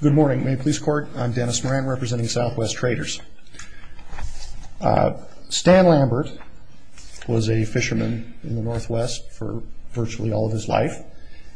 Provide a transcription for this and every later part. Good morning, Maine Police Corp. I'm Dennis Moran representing Southwest Traders. Stan Lambert was a fisherman in the northwest for virtually all of his life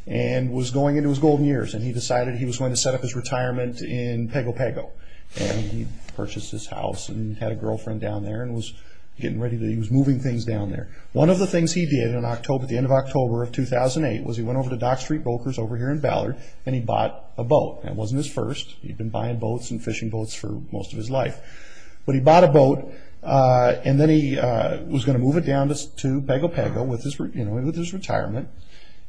and was going into his golden years and he decided he was going to set up his retirement in Pago Pago. And he purchased his house and had a girlfriend down there and was getting ready, he was moving things down there. One of the things he did at the end of October of 2008 was he went over to Dock Street Brokers over here in Ballard and he bought a boat. It wasn't his first, he'd been buying boats and fishing boats for most of his life. But he bought a boat and then he was going to move it down to Pago Pago with his retirement.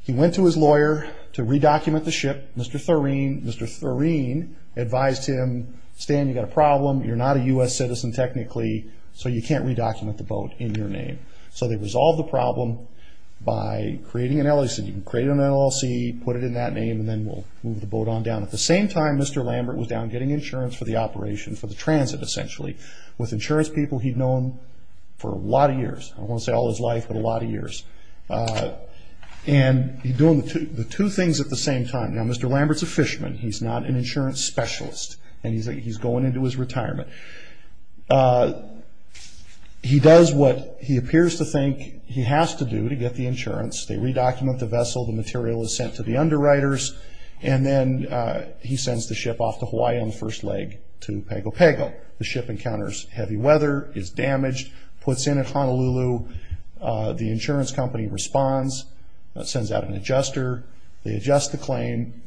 He went to his lawyer to re-document the ship. Mr. Thoreen advised him, Stan you've got a problem, you're not a U.S. citizen technically so you can't re-document the boat in your name. So they resolved the problem by creating an LLC, put it in that name and then we'll move the boat on down. At the same time, Mr. Lambert was down getting insurance for the operation, for the transit essentially. With insurance people he'd known for a lot of years, I don't want to say all his life, but a lot of years. And he's doing the two things at the same time. Now Mr. Lambert's a fisherman, he's not an insurance specialist and he's going into his retirement. He does what he appears to think he has to do to get the insurance. They re-document the vessel, the material is sent to the underwriters and then he sends the ship off to Hawaii on the first leg to Pago Pago. The ship encounters heavy weather, is damaged, puts in at Honolulu, the insurance company responds, sends out an adjuster, they adjust the claim,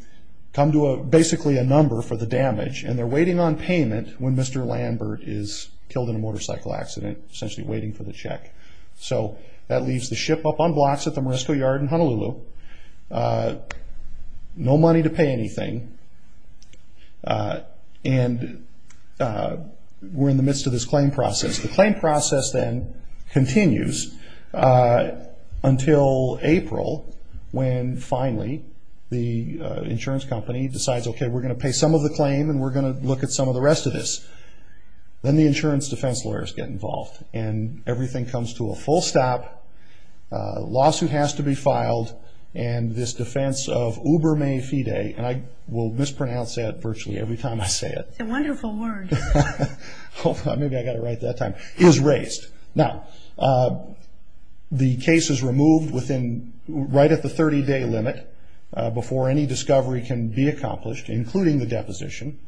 come to basically a number for the damage and they're waiting on payment when Mr. Lambert is killed in a motorcycle accident, essentially waiting for the check. So that leaves the ship up on blocks at the Morisco Yard in Honolulu, no money to pay anything and we're in the midst of this claim process. The claim process then continues until April when finally the insurance company decides, okay we're going to pay some of the claim and we're going to look at some of the rest of this. Then the insurance defense lawyers get involved and everything comes to a full stop. A lawsuit has to be filed and this defense of Uberme Fide, and I will mispronounce that virtually every time I say it. It's a wonderful word. Maybe I got it right that time. Is raised. Now the case is removed right at the 30 day limit before any discovery can be accomplished, including the deposition.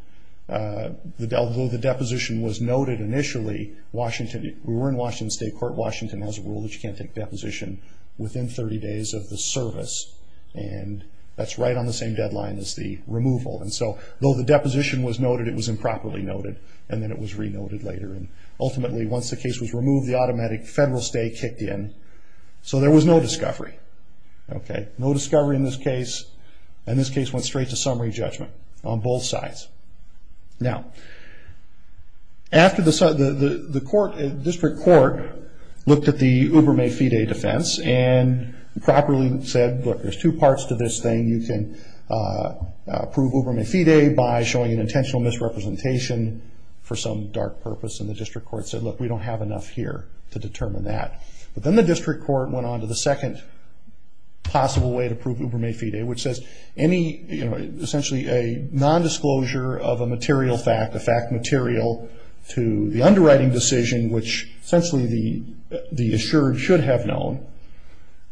Although the deposition was noted initially, we were in Washington State Court, Washington has a rule that you can't take deposition within 30 days of the service and that's right on the same deadline as the removal. Though the deposition was noted, it was improperly noted and then it was re-noted later. Ultimately, once the case was removed, the automatic federal stay kicked in. So there was no discovery. No discovery in this case and this case went straight to summary judgment on both sides. Now, after the district court looked at the Uberme Fide defense and properly said, look, there's two parts to this thing. You can prove Uberme Fide by showing an intentional misrepresentation for some dark purpose and the district court said, look, we don't have enough here to determine that. But then the district court went on to the second possible way to prove Uberme Fide, which says any, you know, essentially a nondisclosure of a material fact, a fact material to the underwriting decision, which essentially the assured should have known,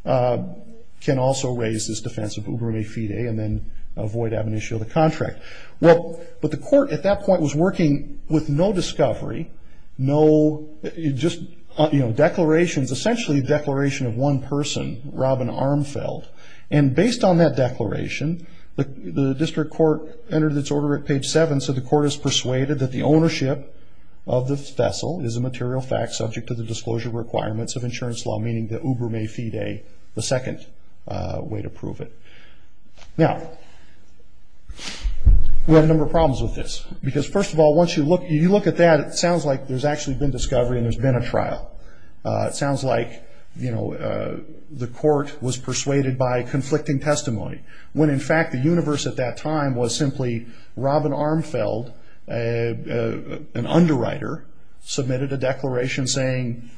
can also raise this defense of Uberme Fide and then avoid ab initio of the contract. Well, but the court at that point was working with no discovery, no just, you know, declarations, essentially a declaration of one person, Robin Armfeld. And based on that declaration, the district court entered its order at page 7 and so the court is persuaded that the ownership of the vessel is a material fact subject to the disclosure requirements of insurance law, meaning that Uberme Fide, the second way to prove it. Now, we have a number of problems with this because, first of all, once you look at that, it sounds like there's actually been discovery and there's been a trial. It sounds like, you know, the court was persuaded by conflicting testimony, when, in fact, the universe at that time was simply Robin Armfeld, an underwriter, submitted a declaration saying,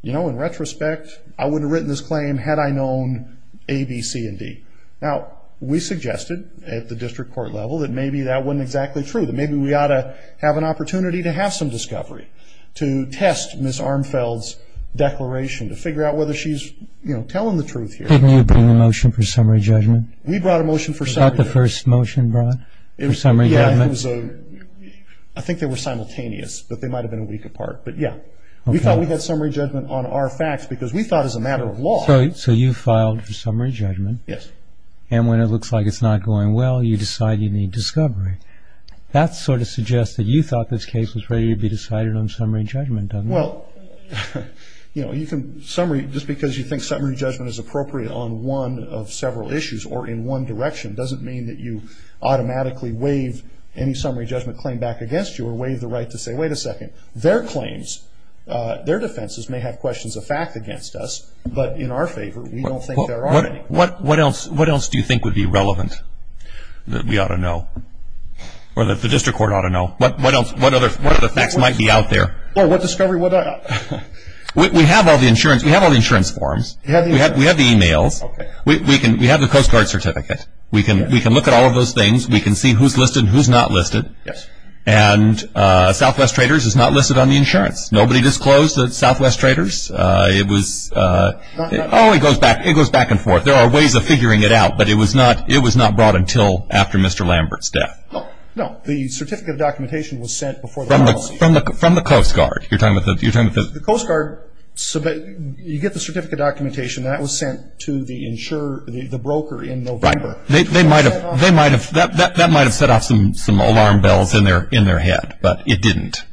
you know, in retrospect, I would have written this claim had I known A, B, C, and D. Now, we suggested at the district court level that maybe that wasn't exactly true, that maybe we ought to have an opportunity to have some discovery to test Ms. Armfeld's declaration to figure out whether she's, you know, telling the truth here. Didn't you bring a motion for summary judgment? We brought a motion for summary judgment. Was that the first motion brought for summary judgment? Yeah, it was a – I think they were simultaneous, but they might have been a week apart, but yeah. We thought we had summary judgment on our facts because we thought as a matter of law – So you filed for summary judgment. Yes. And when it looks like it's not going well, you decide you need discovery. That sort of suggests that you thought this case was ready to be decided on summary judgment, doesn't it? Well, you know, you can – just because you think summary judgment is appropriate on one of several issues or in one direction doesn't mean that you automatically waive any summary judgment claim back against you or waive the right to say, wait a second, their claims, their defenses may have questions of fact against us, but in our favor, we don't think there are any. What else do you think would be relevant that we ought to know or that the district court ought to know? What other facts might be out there? Or what discovery – We have all the insurance. We have all the insurance forms. We have the e-mails. We have the Coast Guard certificate. We can look at all of those things. We can see who's listed and who's not listed. And Southwest Traders is not listed on the insurance. Nobody disclosed to Southwest Traders. It was – oh, it goes back and forth. There are ways of figuring it out, but it was not brought until after Mr. Lambert's death. No. The certificate of documentation was sent before the policy. From the Coast Guard. You're talking about the – The Coast Guard – you get the certificate of documentation. That was sent to the broker in November. Right. They might have – that might have set off some alarm bells in their head, but it didn't.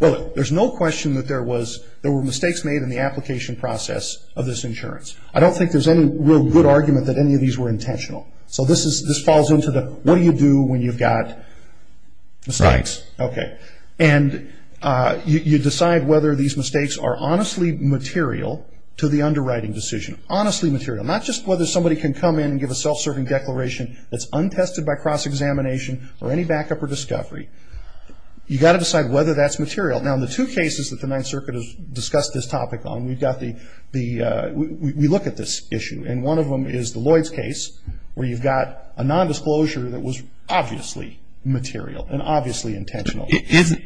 Well, there's no question that there was – there were mistakes made in the application process of this insurance. I don't think there's any real good argument that any of these were intentional. So this is – this falls into the what do you do when you've got mistakes. Right. Okay. And you decide whether these mistakes are honestly material to the underwriting decision. Honestly material. Not just whether somebody can come in and give a self-serving declaration that's untested by cross-examination or any backup or discovery. You've got to decide whether that's material. Now, in the two cases that the Ninth Circuit has discussed this topic on, we've got the – we look at this issue. And one of them is the Lloyds case where you've got a nondisclosure that was obviously material and obviously intentional.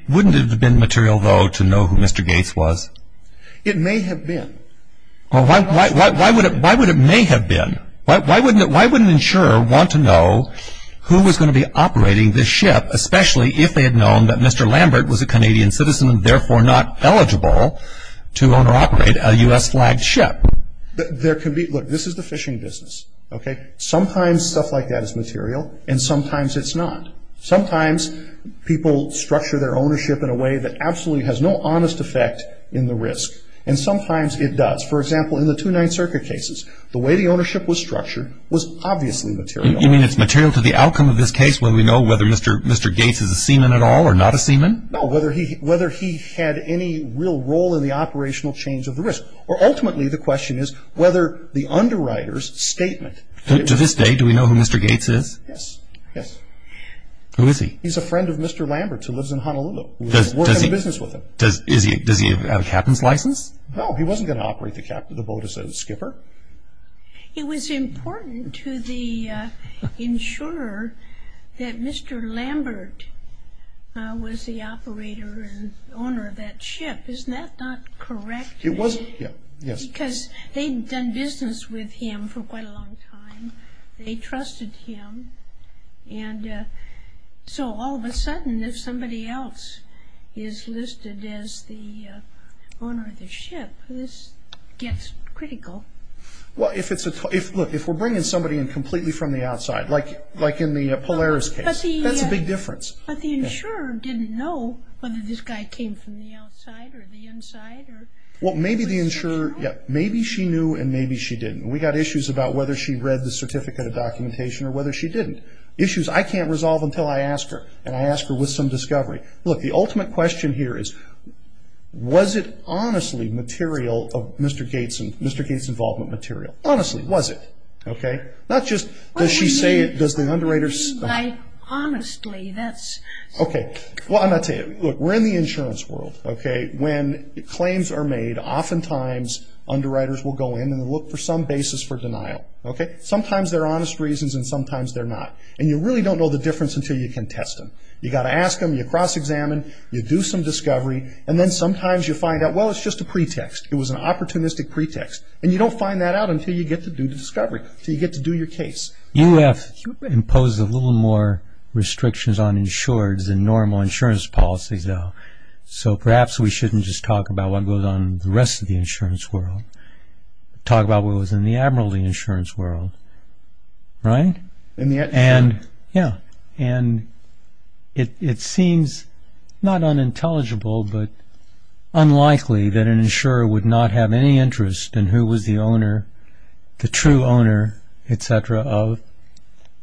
Wouldn't it have been material, though, to know who Mr. Gates was? It may have been. Well, why would it – why would it may have been? Why wouldn't an insurer want to know who was going to be operating this ship, especially if they had known that Mr. Lambert was a Canadian citizen and therefore not eligible to own or operate a U.S.-flagged ship? Now, there can be – look, this is the fishing business, okay? Sometimes stuff like that is material and sometimes it's not. Sometimes people structure their ownership in a way that absolutely has no honest effect in the risk. And sometimes it does. For example, in the two Ninth Circuit cases, the way the ownership was structured was obviously material. You mean it's material to the outcome of this case when we know whether Mr. Gates is a seaman at all or not a seaman? No, whether he had any real role in the operational change of the risk. Or ultimately, the question is whether the underwriter's statement. To this day, do we know who Mr. Gates is? Yes, yes. Who is he? He's a friend of Mr. Lambert's who lives in Honolulu. Does he have a captain's license? No, he wasn't going to operate the boat as a skipper. It was important to the insurer that Mr. Lambert was the operator and owner of that ship. Isn't that not correct? It was, yes. Because they'd done business with him for quite a long time. They trusted him. And so all of a sudden, if somebody else is listed as the owner of the ship, this gets critical. Look, if we're bringing somebody in completely from the outside, like in the Polaris case, that's a big difference. But the insurer didn't know whether this guy came from the outside or the inside. Well, maybe the insurer, yes. Maybe she knew and maybe she didn't. We got issues about whether she read the certificate of documentation or whether she didn't. Issues I can't resolve until I ask her, and I ask her with some discovery. Look, the ultimate question here is, was it honestly material, Mr. Gates' involvement material? Honestly, was it? Not just does she say it, does the underwriter say it. I honestly, that's... Okay. Well, I'm going to tell you. Look, we're in the insurance world. Okay? When claims are made, oftentimes underwriters will go in and look for some basis for denial. Okay? Sometimes they're honest reasons and sometimes they're not. And you really don't know the difference until you can test them. You've got to ask them, you cross-examine, you do some discovery, and then sometimes you find out, well, it's just a pretext. It was an opportunistic pretext. And you don't find that out until you get to do the discovery, until you get to do your case. UF imposes a little more restrictions on insureds than normal insurance policies, though. So perhaps we shouldn't just talk about what goes on in the rest of the insurance world. Talk about what was in the admiralty insurance world. Right? In the... And... Yeah. And it seems not unintelligible but unlikely that an insurer would not have any interest in who was the owner, the true owner, etc., of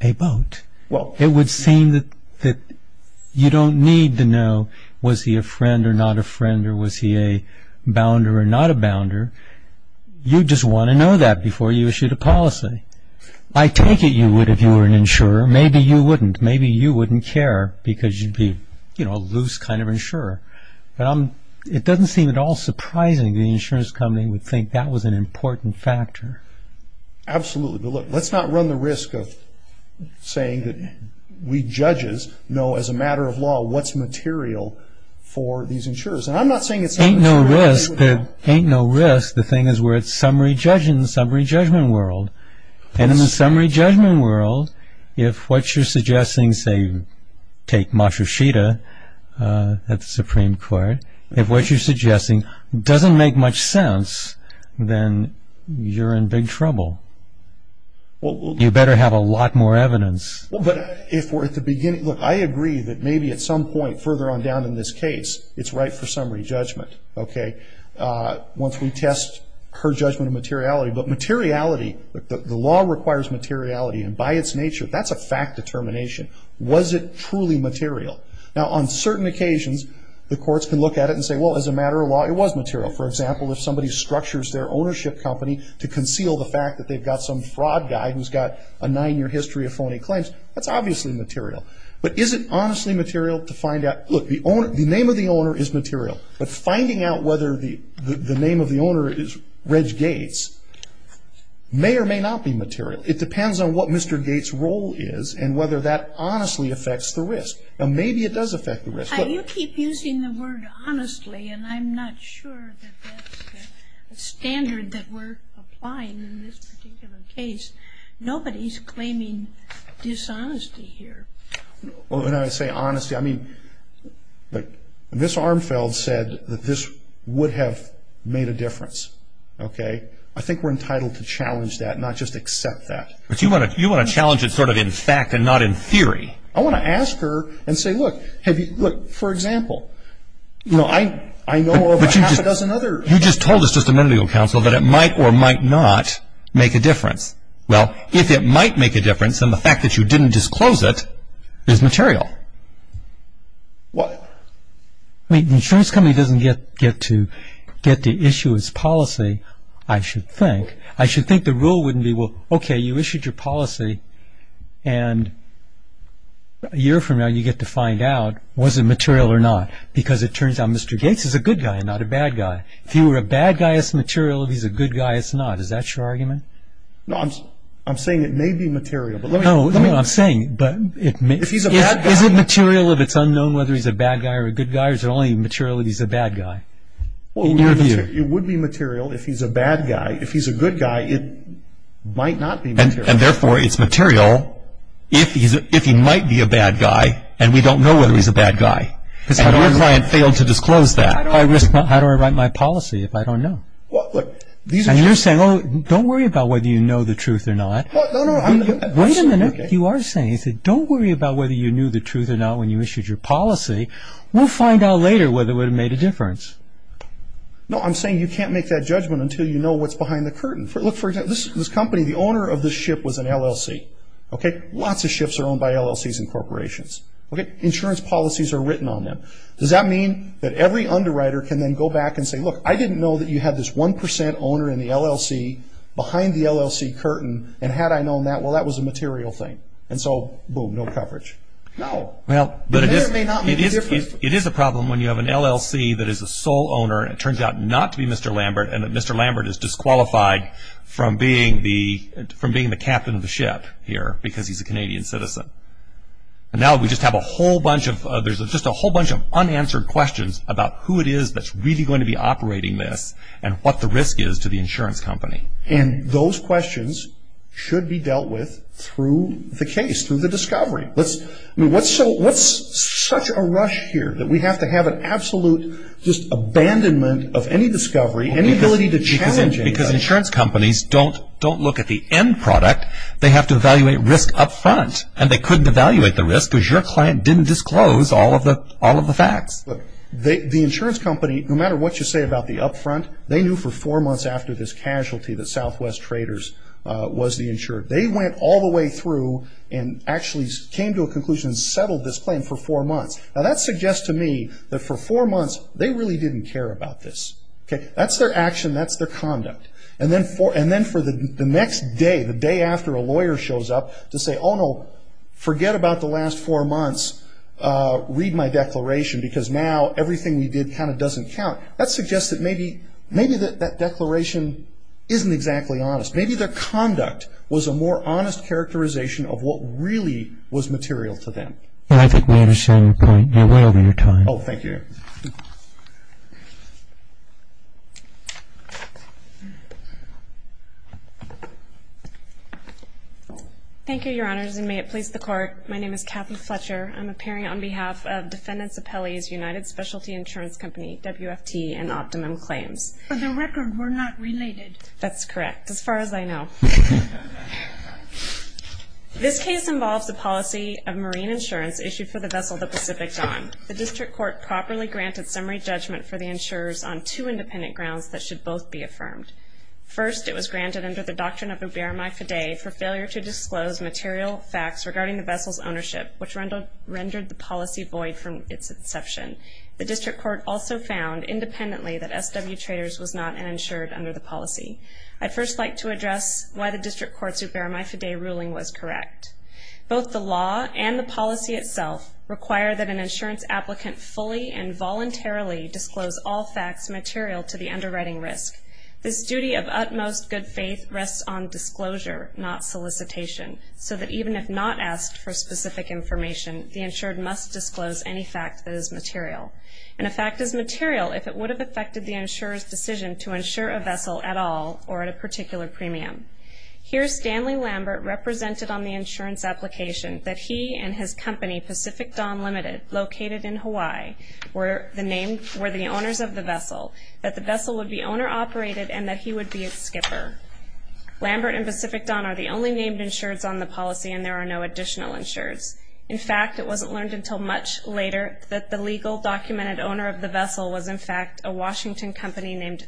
a boat. Well... It would seem that you don't need to know was he a friend or not a friend or was he a bounder or not a bounder. You just want to know that before you issue the policy. I take it you would if you were an insurer. Maybe you wouldn't. Maybe you wouldn't care because you'd be, you know, a loose kind of insurer. But I'm... It doesn't seem at all surprising the insurance company would think that was an important factor. Absolutely. But look, let's not run the risk of saying that we judges know as a matter of law what's material for these insurers. And I'm not saying it's not material... Ain't no risk. Ain't no risk. The thing is we're a summary judge in the summary judgment world. And in the summary judgment world, if what you're suggesting, say, take Matsushita at the Supreme Court, if what you're suggesting doesn't make much sense, then you're in big trouble. You better have a lot more evidence. Well, but if we're at the beginning... Look, I agree that maybe at some point further on down in this case it's right for summary judgment, okay, once we test her judgment of materiality. But materiality, the law requires materiality. And by its nature, that's a fact determination. Was it truly material? Now, on certain occasions, the courts can look at it and say, well, as a matter of law, it was material. For example, if somebody structures their ownership company to conceal the fact that they've got some fraud guy who's got a nine-year history of phony claims, that's obviously material. But is it honestly material to find out... Look, the name of the owner is material. But finding out whether the name of the owner is Reg Gates may or may not be material. It depends on what Mr. Gates' role is and whether that honestly affects the risk. Now, maybe it does affect the risk. You keep using the word honestly, and I'm not sure that that's the standard that we're applying in this particular case. Nobody's claiming dishonesty here. When I say honesty, I mean, look, Ms. Armfeld said that this would have made a difference, okay? I think we're entitled to challenge that, not just accept that. But you want to challenge it sort of in fact and not in theory. I want to ask her and say, look, for example, I know of a half a dozen other... But you just told us just a minute ago, counsel, that it might or might not make a difference. Well, if it might make a difference, then the fact that you didn't disclose it is material. What? I mean, the insurance company doesn't get to issue its policy, I should think. I should think the rule wouldn't be, well, okay, you issued your policy. And a year from now, you get to find out, was it material or not? Because it turns out Mr. Gates is a good guy and not a bad guy. If you were a bad guy, it's material. If he's a good guy, it's not. Is that your argument? No, I'm saying it may be material, but let me... No, I'm saying it may... If he's a bad guy... Is it material if it's unknown whether he's a bad guy or a good guy, or is it only material if he's a bad guy? In your view. It would be material if he's a bad guy. If he's a good guy, it might not be material. And therefore, it's material if he might be a bad guy and we don't know whether he's a bad guy. And your client failed to disclose that. How do I write my policy if I don't know? And you're saying, don't worry about whether you know the truth or not. No, no. Wait a minute. You are saying, don't worry about whether you knew the truth or not when you issued your policy. We'll find out later whether it would have made a difference. No, I'm saying you can't make that judgment until you know what's behind the curtain. Look, for example, this company, the owner of this ship was an LLC. Lots of ships are owned by LLCs and corporations. Insurance policies are written on them. Does that mean that every underwriter can then go back and say, look, I didn't know that you had this 1% owner in the LLC behind the LLC curtain, and had I known that, well, that was a material thing. And so, boom, no coverage. No. It may or may not make a difference. It is a problem when you have an LLC that is a sole owner and it turns out not to be Mr. Lambert and that Mr. Lambert is disqualified from being the captain of the ship here because he's a Canadian citizen. And now we just have a whole bunch of unanswered questions about who it is that's really going to be operating this and what the risk is to the insurance company. And those questions should be dealt with through the case, through the discovery. What's such a rush here that we have to have an absolute abandonment of any discovery, any ability to challenge anybody? Because insurance companies don't look at the end product. They have to evaluate risk up front. And they couldn't evaluate the risk because your client didn't disclose all of the facts. The insurance company, no matter what you say about the up front, they knew for four months after this casualty that Southwest Traders was the insurer. They went all the way through and actually came to a conclusion and settled this claim for four months. Now, that suggests to me that for four months they really didn't care about this. That's their action. That's their conduct. And then for the next day, the day after a lawyer shows up to say, oh, no, forget about the last four months. Read my declaration because now everything we did kind of doesn't count. That suggests that maybe that declaration isn't exactly honest. Maybe their conduct was a more honest characterization of what really was material to them. And I think we understand your point. You're way over your time. Oh, thank you. Thank you, Your Honors, and may it please the Court. My name is Kathleen Fletcher. I'm appearing on behalf of Defendants Appellee's United Specialty Insurance Company, WFT, and Optimum Claims. For the record, we're not related. That's correct, as far as I know. This case involves a policy of marine insurance issued for the vessel, the Pacific Dawn. The District Court properly granted summary judgment for the insurers on two independent grounds that should both be affirmed. First, it was granted under the doctrine of ubermae fidei for failure to disclose material facts regarding the vessel's ownership, which rendered the policy void from its inception. The District Court also found independently that SW Traders was not an insured under the policy. I'd first like to address why the District Court's ubermae fidei ruling was correct. Both the law and the policy itself require that an insurance applicant fully and voluntarily disclose all facts material to the underwriting risk. This duty of utmost good faith rests on disclosure, not solicitation, so that even if not asked for specific information, the insured must disclose any fact that is material. And a fact is material if it would have affected the insurer's decision to insure a vessel at all or at a particular premium. Here, Stanley Lambert represented on the insurance application that he and his company, Pacific Dawn Limited, located in Hawaii, were the owners of the vessel, that the vessel would be owner-operated, and that he would be its skipper. Lambert and Pacific Dawn are the only named insureds on the policy, and there are no additional insureds. In fact, it wasn't learned until much later that the legal documented owner of the vessel was, in fact, a Washington company named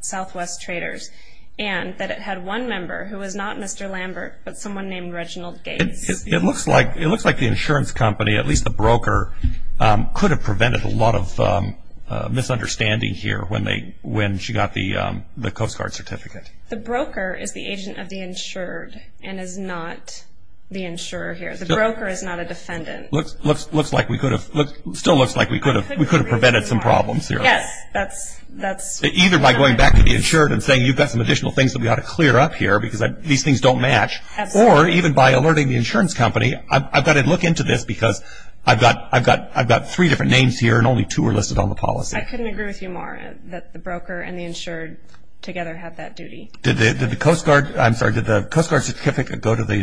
Southwest Traders, and that it had one member who was not Mr. Lambert, but someone named Reginald Gates. It looks like the insurance company, at least the broker, could have prevented a lot of misunderstanding here when she got the Coast Guard certificate. The broker is the agent of the insured and is not the insurer here. The broker is not a defendant. It still looks like we could have prevented some problems here. Yes. Either by going back to the insured and saying, you've got some additional things that we ought to clear up here because these things don't match, or even by alerting the insurance company, I've got to look into this because I've got three different names here and only two are listed on the policy. I couldn't agree with you more that the broker and the insured together have that duty. Did the Coast Guard certificate go to the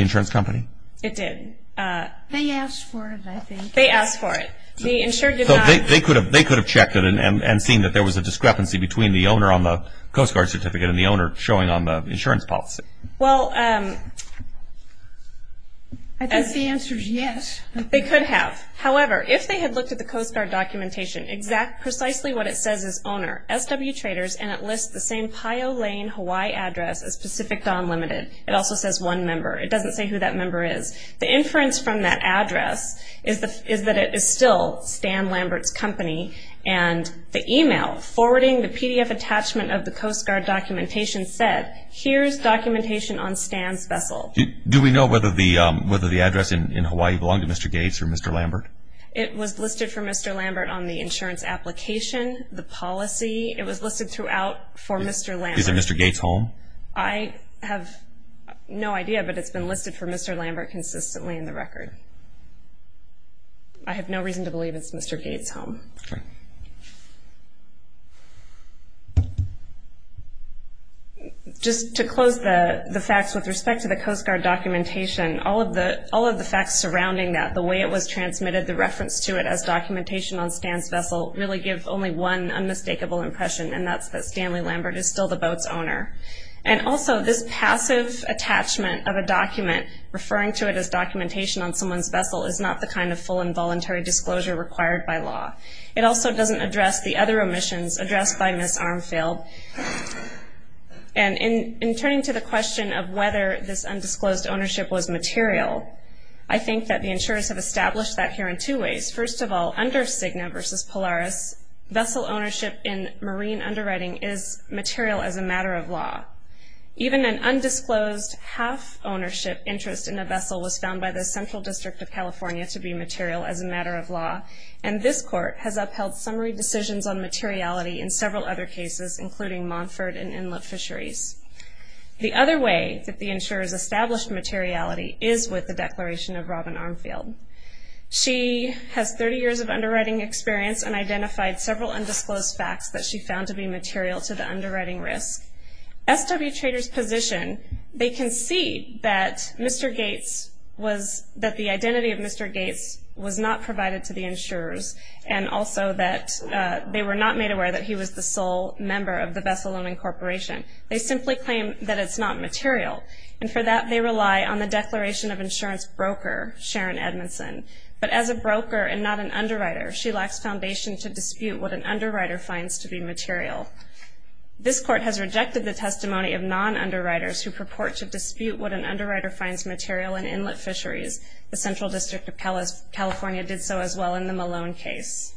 insurance company? It did. They asked for it, I think. They asked for it. They could have checked it and seen that there was a discrepancy between the owner on the Coast Guard certificate and the owner showing on the insurance policy. Well, I think the answer is yes. They could have. However, if they had looked at the Coast Guard documentation, exactly what it says is owner, SW Traders, and it lists the same Pio Lane, Hawaii address as Pacific Dawn Limited. It also says one member. It doesn't say who that member is. The inference from that address is that it is still Stan Lambert's company, and the e-mail forwarding the PDF attachment of the Coast Guard documentation said, here's documentation on Stan's vessel. Do we know whether the address in Hawaii belonged to Mr. Gates or Mr. Lambert? It was listed for Mr. Lambert on the insurance application, the policy. It was listed throughout for Mr. Lambert. Is it Mr. Gates' home? I have no idea, but it's been listed for Mr. Lambert consistently in the record. I have no reason to believe it's Mr. Gates' home. Okay. Just to close the facts with respect to the Coast Guard documentation, all of the facts surrounding that, the way it was transmitted, the reference to it as documentation on Stan's vessel, really give only one unmistakable impression, and that's that Stanley Lambert is still the boat's owner. And also this passive attachment of a document referring to it as documentation on someone's vessel is not the kind of full and voluntary disclosure required by law. It also doesn't address the other omissions addressed by Ms. Armfield. And in turning to the question of whether this undisclosed ownership was material, I think that the insurers have established that here in two ways. First of all, under Cigna v. Polaris, vessel ownership in marine underwriting is material as a matter of law. Even an undisclosed half-ownership interest in a vessel was found by the Central District of California to be material as a matter of law, and this court has upheld summary decisions on materiality in several other cases, including Montford and Inlet Fisheries. The other way that the insurers established materiality is with the declaration of Robin Armfield. She has 30 years of underwriting experience and identified several undisclosed facts that she found to be material to the underwriting risk. SW Trader's position, they can see that Mr. Gates was, that the identity of Mr. Gates was not provided to the insurers, and also that they were not made aware that he was the sole member of the Vessel Loaning Corporation. They simply claim that it's not material, and for that they rely on the declaration of insurance broker, Sharon Edmondson. But as a broker and not an underwriter, she lacks foundation to dispute what an underwriter finds to be material. This court has rejected the testimony of non-underwriters who purport to dispute what an underwriter finds material in Inlet Fisheries. The Central District of California did so as well in the Malone case.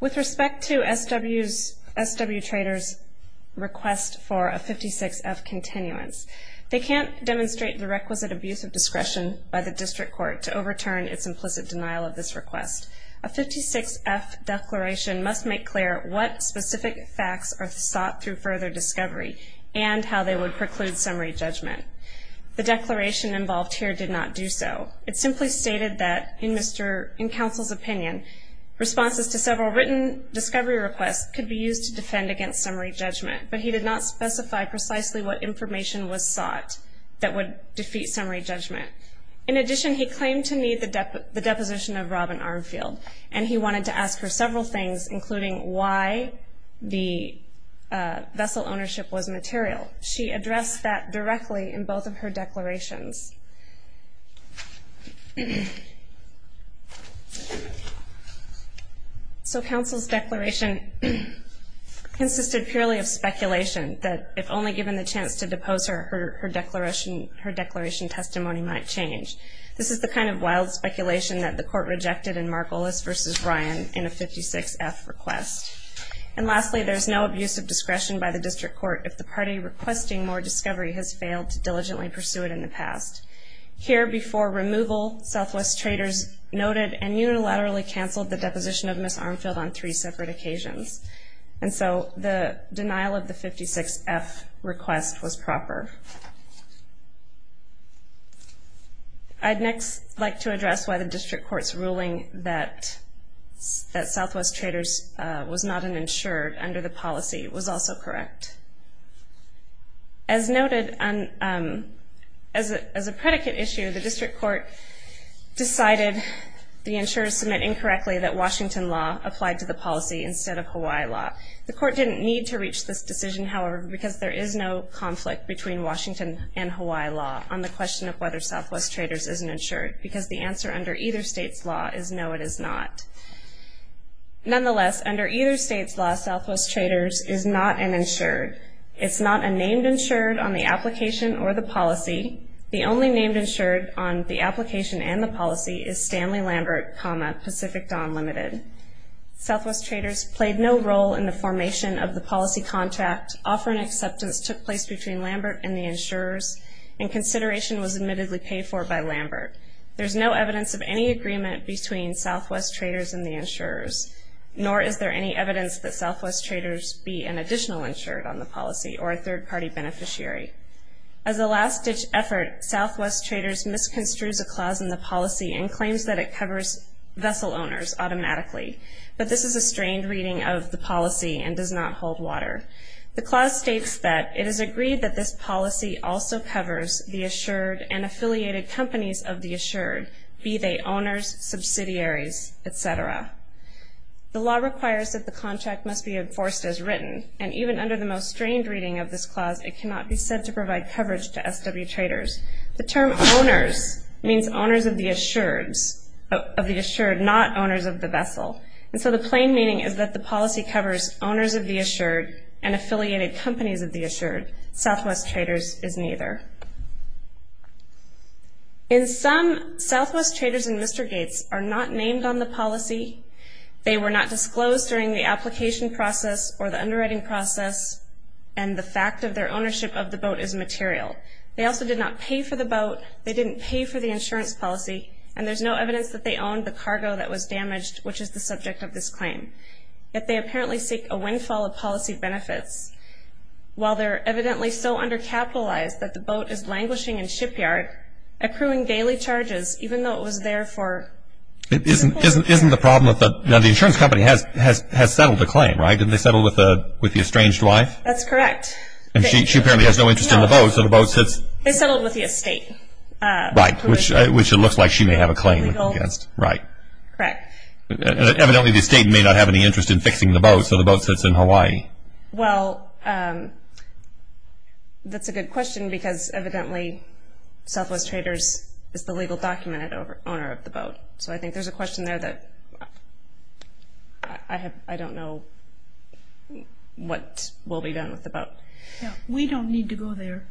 With respect to SW Trader's request for a 56-F continuance, they can't demonstrate the requisite abuse of discretion by the district court to overturn its implicit denial of this request. A 56-F declaration must make clear what specific facts are sought through further discovery and how they would preclude summary judgment. The declaration involved here did not do so. It simply stated that in counsel's opinion, responses to several written discovery requests could be used to defend against summary judgment, but he did not specify precisely what information was sought that would defeat summary judgment. In addition, he claimed to need the deposition of Robin Armfield, and he wanted to ask her several things, including why the vessel ownership was material. She addressed that directly in both of her declarations. So counsel's declaration consisted purely of speculation that if only given the chance to depose her, her declaration testimony might change. This is the kind of wild speculation that the court rejected in Mark Olis v. Ryan in a 56-F request. And lastly, there's no abuse of discretion by the district court if the party requesting more discovery has failed to diligently pursue it in the past. Here before removal, SW Traders noted and unilaterally canceled the deposition of Ms. Armfield on three separate occasions. And so the denial of the 56-F request was proper. I'd next like to address why the district court's ruling that SW Traders was not an insured under the policy was also correct. As noted, as a predicate issue, the district court decided the insurers submit incorrectly that Washington law applied to the policy instead of Hawaii law. The court didn't need to reach this decision, however, because there is no conflict between Washington and Hawaii law on the question of whether SW Traders is an insured, because the answer under either state's law is no, it is not. Nonetheless, under either state's law, SW Traders is not an insured. It's not a named insured on the application or the policy. The only named insured on the application and the policy is Stanley Lambert, Pacific Dawn Limited. SW Traders played no role in the formation of the policy contract. Offering acceptance took place between Lambert and the insurers, and consideration was admittedly paid for by Lambert. There's no evidence of any agreement between SW Traders and the insurers, nor is there any evidence that SW Traders be an additional insured on the policy or a third-party beneficiary. As a last-ditch effort, SW Traders misconstrues a clause in the policy and claims that it covers vessel owners automatically, but this is a strained reading of the policy and does not hold water. The clause states that it is agreed that this policy also covers the insured and affiliated companies of the insured, be they owners, subsidiaries, et cetera. And even under the most strained reading of this clause, it cannot be said to provide coverage to SW Traders. The term owners means owners of the insured, not owners of the vessel. And so the plain meaning is that the policy covers owners of the insured and affiliated companies of the insured. Southwest Traders is neither. In sum, Southwest Traders and Mr. Gates are not named on the policy. They were not disclosed during the application process or the underwriting process, and the fact of their ownership of the boat is material. They also did not pay for the boat. They didn't pay for the insurance policy, and there's no evidence that they owned the cargo that was damaged, which is the subject of this claim. Yet they apparently seek a windfall of policy benefits. While they're evidently so undercapitalized that the boat is languishing in shipyard, accruing daily charges, even though it was there for two days. Isn't the problem that the insurance company has settled the claim, right? Didn't they settle with the estranged wife? That's correct. She apparently has no interest in the boat, so the boat sits. They settled with the estate. Right, which it looks like she may have a claim against. Right. Correct. Evidently the estate may not have any interest in fixing the boat, so the boat sits in Hawaii. Well, that's a good question because evidently Southwest Traders is the legal document owner of the boat, so I think there's a question there that I don't know what will be done with the boat. We don't need to go there.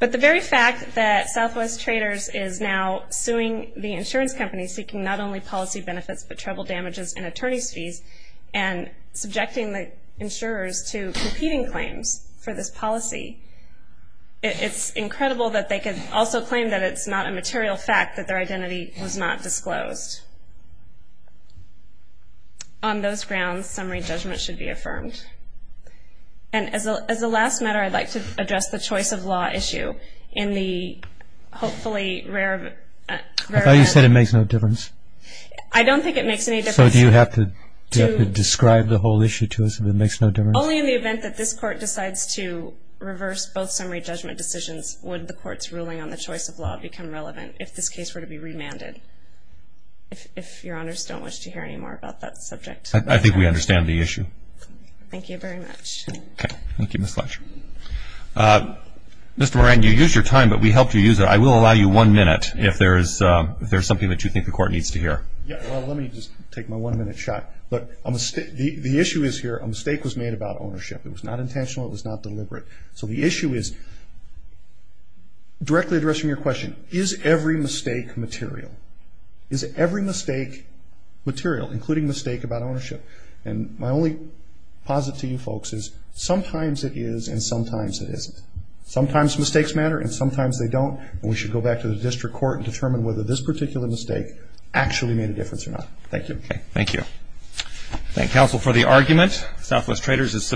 But the very fact that Southwest Traders is now suing the insurance company seeking not only policy benefits but travel damages and attorney's fees and subjecting the insurers to competing claims for this policy, it's incredible that they could also claim that it's not a material fact that their identity was not disclosed. On those grounds, summary judgment should be affirmed. And as a last matter, I'd like to address the choice of law issue in the hopefully rare event. I thought you said it makes no difference. I don't think it makes any difference. So do you have to describe the whole issue to us if it makes no difference? Only in the event that this Court decides to reverse both summary judgment decisions would the Court's ruling on the choice of law become relevant if this case were to be remanded, if Your Honors don't wish to hear any more about that subject. I think we understand the issue. Thank you very much. Thank you, Ms. Fletcher. Mr. Moran, you used your time, but we helped you use it. I will allow you one minute if there is something that you think the Court needs to hear. Let me just take my one-minute shot. The issue is here, a mistake was made about ownership. It was not intentional. It was not deliberate. So the issue is, directly addressing your question, is every mistake material? Is every mistake material, including mistake about ownership? And my only posit to you folks is sometimes it is and sometimes it isn't. Sometimes mistakes matter and sometimes they don't, and we should go back to the District Court and determine whether this particular mistake actually made a difference or not. Thank you. Thank you. Thank counsel for the argument. Southwest Traders is submitted.